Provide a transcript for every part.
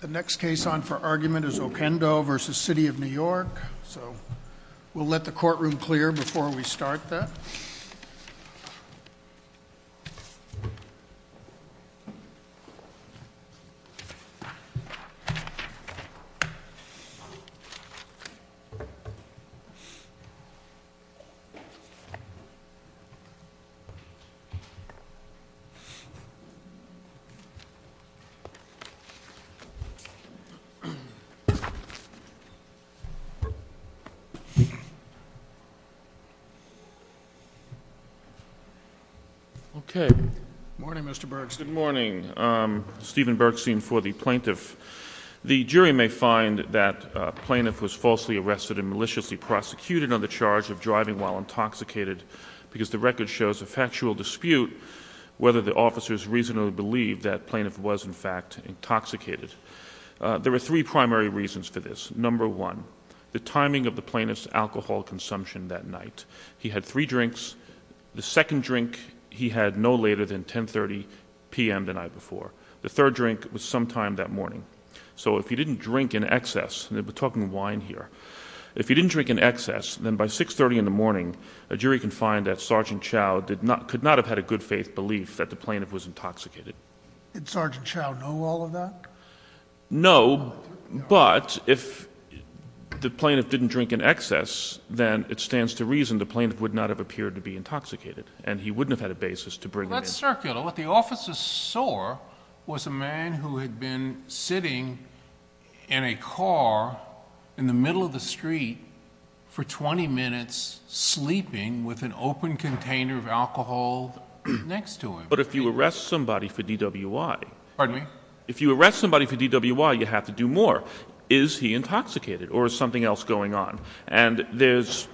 The next case on for argument is Oquendo v. City of New York. So we'll let the courtroom clear before we start that. Good morning, Mr. Burks. Good morning. Stephen Burksine for the plaintiff. The jury may find that the plaintiff was falsely arrested and maliciously prosecuted on the charge of driving while intoxicated because the record shows a factual dispute whether the officers reasonably believe that plaintiff was, in fact, intoxicated. There were three primary reasons for this. Number one, the timing of the plaintiff's alcohol consumption that night. He had three drinks. The second drink he had no later than 10.30 p.m. the night before. The third drink was sometime that morning. So if he didn't drink in excess, and we're talking wine here, if he didn't drink in excess, then by 6.30 in the morning, a jury can find that Sergeant Chow could not have had a good-faith belief that the plaintiff was intoxicated. Did Sergeant Chow know all of that? No, but if the plaintiff didn't drink in excess, then it stands to reason the plaintiff would not have appeared to be intoxicated, and he wouldn't have had a basis to bring him in. Well, that's circular. What the officers saw was a man who had been sitting in a car in the middle of the street for 20 minutes, sleeping with an open container of alcohol next to him. But if you arrest somebody for DWI, you have to do more. Is he intoxicated, or is something else going on? And there's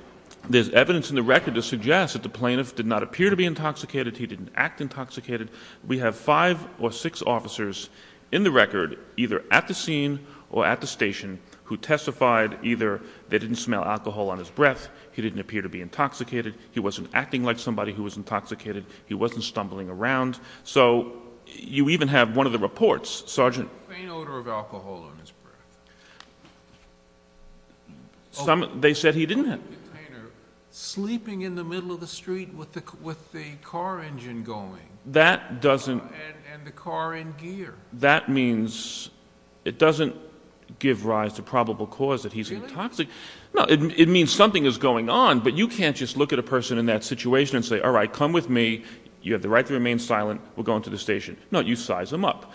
evidence in the record to suggest that the plaintiff did not appear to be intoxicated, he didn't act intoxicated. We have five or six officers in the record, either at the scene or at the station, who testified, either they didn't smell alcohol on his breath, he didn't appear to be intoxicated, he wasn't acting like somebody who was intoxicated, he wasn't stumbling around. So you even have one of the reports, Sergeant... Faint odor of alcohol on his breath. They said he didn't have... Open container, sleeping in the middle of the street with the car engine going. That doesn't... And the car in gear. That means it doesn't give rise to probable cause that he's intoxicated. Really? No, it means something is going on, but you can't just look at a person in that situation and say, all right, come with me, you have the right to remain silent, we're going to the station. No, you size him up.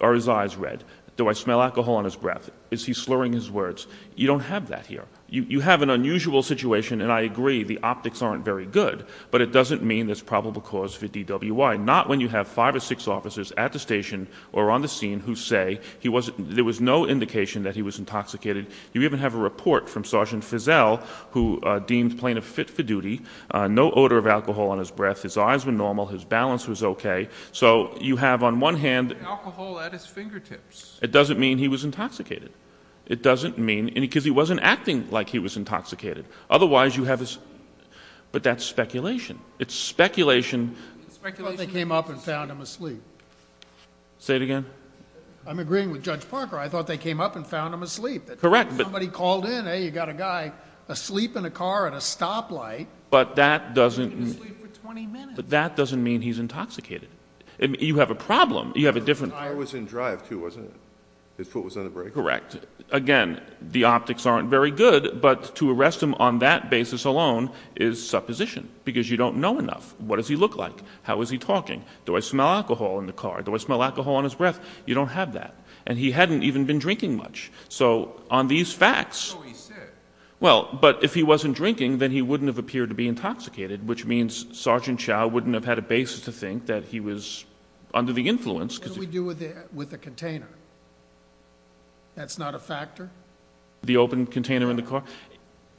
Are his eyes red? Do I smell alcohol on his breath? Is he slurring his words? You don't have that here. You have an unusual situation, and I agree, the optics aren't very good, but it doesn't mean there's probable cause for DWI. Not when you have five or six officers at the station or on the scene who say there was no indication that he was intoxicated. You even have a report from Sergeant Fizell, who deemed plaintiff fit for duty. No odor of alcohol on his breath. His eyes were normal. His balance was okay. So you have on one hand... Alcohol at his fingertips. It doesn't mean he was intoxicated. It doesn't mean... Because he wasn't acting like he was intoxicated. Otherwise you have this... But that's speculation. It's speculation. It's speculation. I thought they came up and found him asleep. Say it again. I'm agreeing with Judge Parker. I thought they came up and found him asleep. Correct. Somebody called in, hey, you got a guy asleep in a car at a stoplight. But that doesn't... He was asleep for 20 minutes. But that doesn't mean he's intoxicated. You have a problem. You have a different... The tire was in drive too, wasn't it? His foot was on the brake. Correct. Again, the optics aren't very good, but to arrest him on that basis alone is supposition because you don't know enough. What does he look like? How is he talking? Do I smell alcohol in the car? Do I smell alcohol on his breath? You don't have that. He hadn't even been drinking much. On these facts... That's what he said. Well, but if he wasn't drinking, then he wouldn't have appeared to be intoxicated, which means Sergeant Chow wouldn't have had a basis to think that he was under the influence. What did we do with the container? That's not a factor? The open container in the car?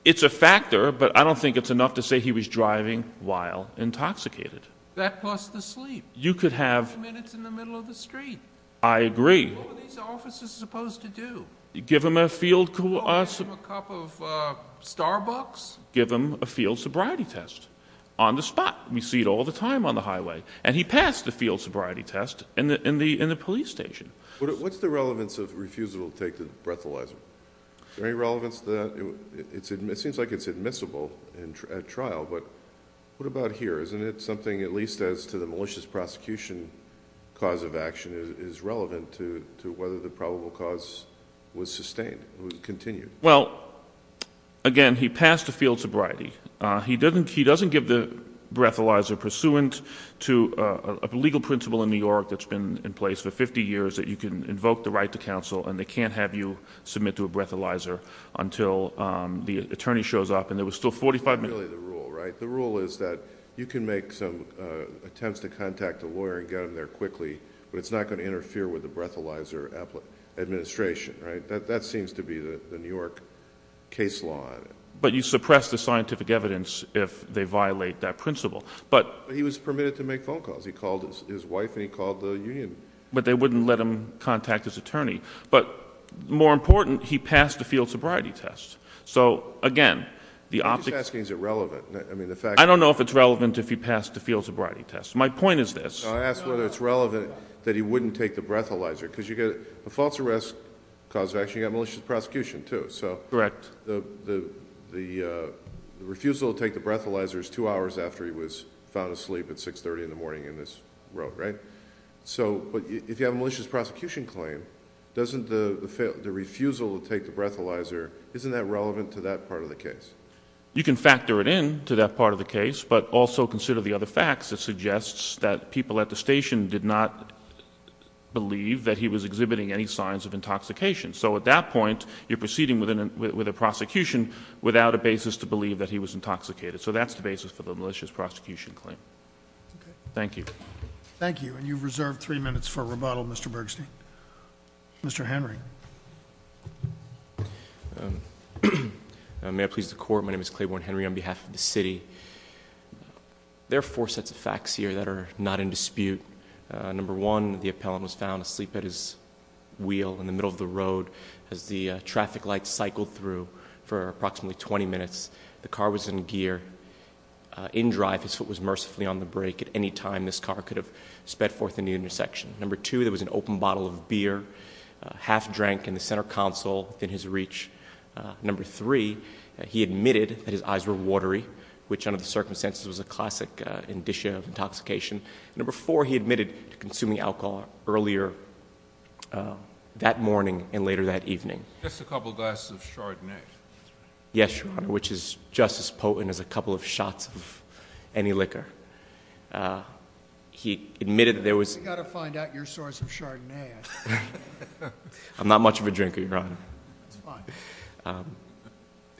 It's a factor, but I don't think it's enough to say he was driving while intoxicated. That plus the sleep. You could have... Five minutes in the middle of the street. I agree. What were these officers supposed to do? Give him a field... Give him a cup of Starbucks? Give him a field sobriety test on the spot. We see it all the time on the highway. He passed the field sobriety test in the police station. What's the relevance of refusal to take the breathalyzer? Is there any relevance to that? It seems like it's admissible at trial, but what about here? Isn't it something, at least as to the malicious prosecution cause of action, is relevant to whether the probable cause was sustained, was continued? Well, again, he passed the field sobriety. He doesn't give the breathalyzer pursuant to a legal principle in New York that's been in place for 50 years that you can invoke the right to counsel and they can't have you submit to a breathalyzer until the attorney shows up and there was still 45 minutes... That's not really the rule, right? The rule is that you can make some attempts to contact a lawyer and get him there quickly, but it's not going to interfere with the breathalyzer administration, right? That seems to be the New York case law. But you suppress the scientific evidence if they violate that principle, but... But he was permitted to make phone calls. He called his wife and he called the union. But they wouldn't let him contact his attorney. But more important, he passed the field sobriety test. So again, the... What he's asking, is it relevant? I mean, the fact... I don't know if it's relevant if he passed the field sobriety test. My point is this... So I ask whether it's relevant that he wouldn't take the breathalyzer because you get a false arrest cause of action, you got malicious prosecution too, so... Correct. The refusal to take the breathalyzer is two hours after he was found asleep at 630 in the morning in this road, right? So if you have a malicious prosecution claim, doesn't the refusal to take the breathalyzer, isn't that relevant to that part of the case? You can factor it in to that part of the case, but also consider the other facts that suggest that people at the station did not believe that he was exhibiting any signs of intoxication. So at that point, you're proceeding with a prosecution without a basis to believe that he was intoxicated. So that's the basis for the malicious prosecution claim. Thank you. Thank you. And you've reserved three minutes for rebuttal, Mr. Bergstein. Mr. Henry. May I please the Court? My name is Claiborne Henry on behalf of the City. There are four sets of facts here that are not in dispute. Number one, the appellant was found asleep at his wheel in the middle of the road as the traffic lights cycled through for approximately 20 minutes. The car was in gear. In drive, his foot was mercifully on the brake at any time this car could have sped forth in the intersection. Number two, there was an open bottle of beer half-drank in the center console within his reach. Number three, he admitted that his eyes were watery, which under the circumstances was a classic indicia of intoxication. Number four, he admitted to consuming alcohol earlier that morning and later that evening. Just a couple of glasses of Chardonnay. Yes, Your Honor, which is just as potent as a couple of shots of any liquor. He admitted that there was... We've got to find out your source of Chardonnay. I'm not much of a drinker, Your Honor.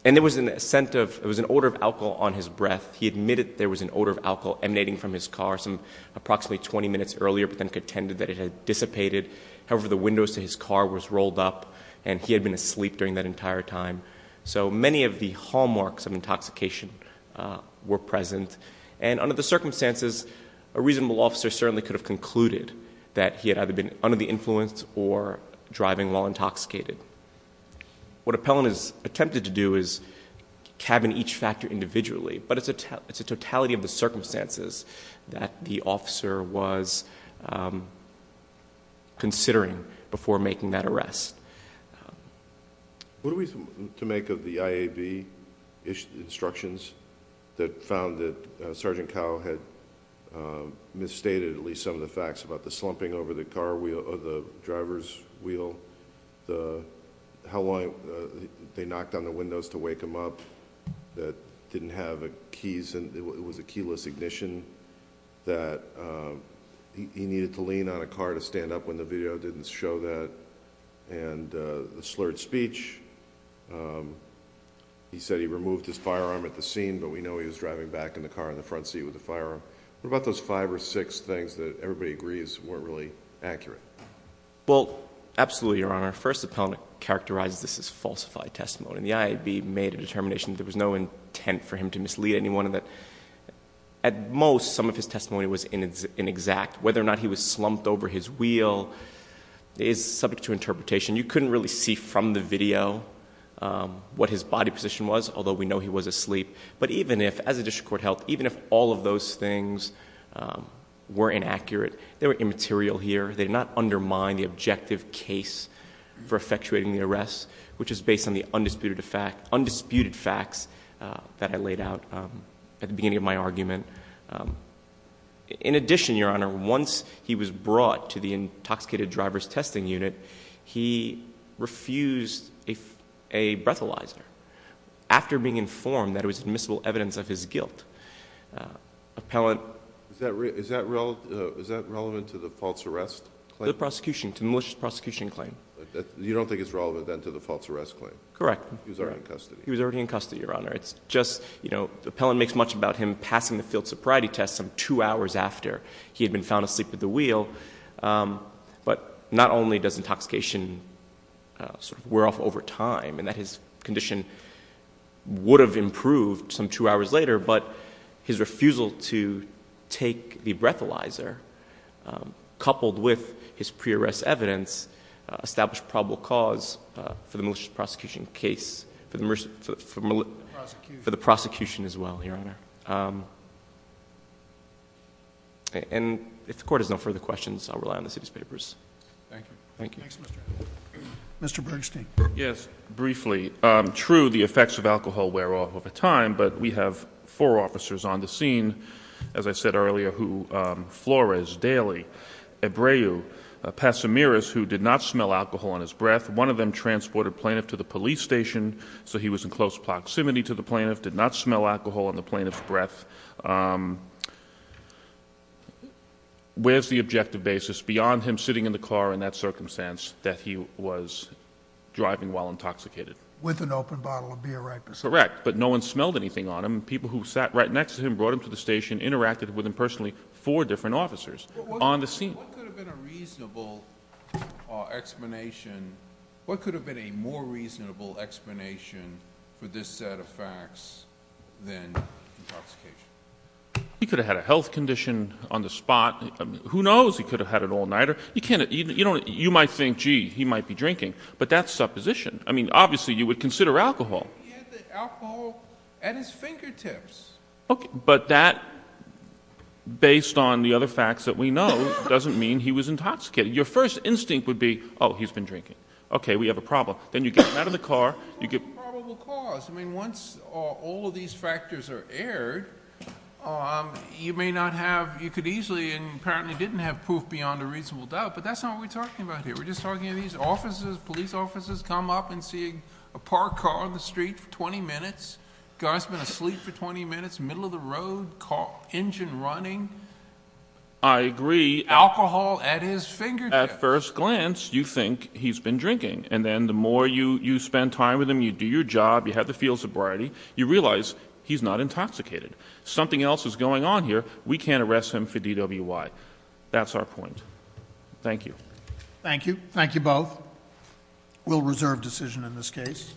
And there was a scent of... it was an odor of alcohol on his breath. He admitted there was an odor of alcohol emanating from his car some approximately 20 minutes earlier, but then contended that it had dissipated. However, the windows to his car was rolled up, and he had been asleep during that entire time. So many of the hallmarks of intoxication were present. And under the circumstances, a reasonable officer certainly could have concluded that he had either been under the influence or driving while intoxicated. What Appellant has attempted to do is cabin each factor individually, but it's a totality of the circumstances that the officer was considering before making that arrest. What are we to make of the IAB instructions that found that Sergeant Cowell had misstated at least some of the facts about the slumping over the driver's wheel, how long they knocked on the windows to wake him up, that it was a keyless ignition, that he needed to lean on a car to stand up when the video didn't show that, and the slurred speech, he said he removed his firearm at the scene, but we know he was driving back in the car in the front seat with the firearm. What about those five or six things that everybody agrees weren't really accurate? Well, absolutely, Your Honor. First, Appellant characterized this as falsified testimony, and the IAB made a determination that there was no intent for him to mislead anyone, and that at most, some of his testimony was inexact. Whether or not he was slumped over his wheel is subject to interpretation. You couldn't really see from the video what his body position was, although we know he was asleep, but even if, as a district court held, even if all of those things were inaccurate, they were immaterial here. They did not undermine the objective case for effectuating the arrest, which is based on the undisputed facts that I laid out at the beginning of my argument. In addition, Your Honor, once he was brought to the intoxicated driver's testing unit, he refused a breathalyzer after being informed that it was admissible evidence of his guilt. Appellant— Is that relevant to the false arrest claim? To the prosecution, to the malicious prosecution claim. You don't think it's relevant, then, to the false arrest claim? Correct. He was already in custody. He was already in custody, Your Honor. It's just, you know, Appellant makes much about him passing the field sobriety test some two hours after he had been found asleep at the wheel, but not only does intoxication sort of wear off over time, and that his condition would have improved some two hours later, but his refusal to take the breathalyzer, coupled with his pre-arrest evidence, established probable cause for the malicious prosecution case, for the prosecution as well, Your Honor. And if the Court has no further questions, I'll rely on the city's papers. Thank you. Thank you. Thanks, Mr. Allen. Mr. Bernstein. Yes, briefly. True, the effects of alcohol wear off over time, but we have four officers on the scene, as I said earlier, who, Flores, Daly, Ebreu, Passamiris, who did not smell alcohol on his breath. One of them transported Plaintiff to the police station, so he was in close proximity to the Plaintiff, did not smell alcohol on the Plaintiff's breath. Where's the objective basis beyond him sitting in the car in that circumstance that he was driving while intoxicated? With an open bottle of beer, right? Correct. But no one smelled anything on him. People who sat right next to him brought him to the station, interacted with him personally. Four different officers on the scene. What could have been a reasonable explanation, what could have been a more reasonable explanation for this set of facts than intoxication? He could have had a health condition on the spot. Who knows? He could have had an all-nighter. You might think, gee, he might be drinking, but that's supposition. I mean, obviously, you would consider alcohol. He had the alcohol at his fingertips. But that, based on the other facts that we know, doesn't mean he was intoxicated. Your first instinct would be, oh, he's been drinking. Okay, we have a problem. Then you get him out of the car. What's the probable cause? I mean, once all of these factors are aired, you may not have, you could easily, and apparently didn't have proof beyond a reasonable doubt, but that's not what we're talking about here. We're just talking about these officers, police officers come up and see a parked car on the street for 20 minutes, guy's been asleep for 20 minutes, middle of the road, engine running. I agree. Alcohol at his fingertips. At first glance, you think he's been drinking, and then the more you spend time with him, you do your job, you have the feel of sobriety, you realize he's not intoxicated. Something else is going on here. We can't arrest him for DWI. That's our point. Thank you. Thank you. Thank you both. We'll reserve decision in this case.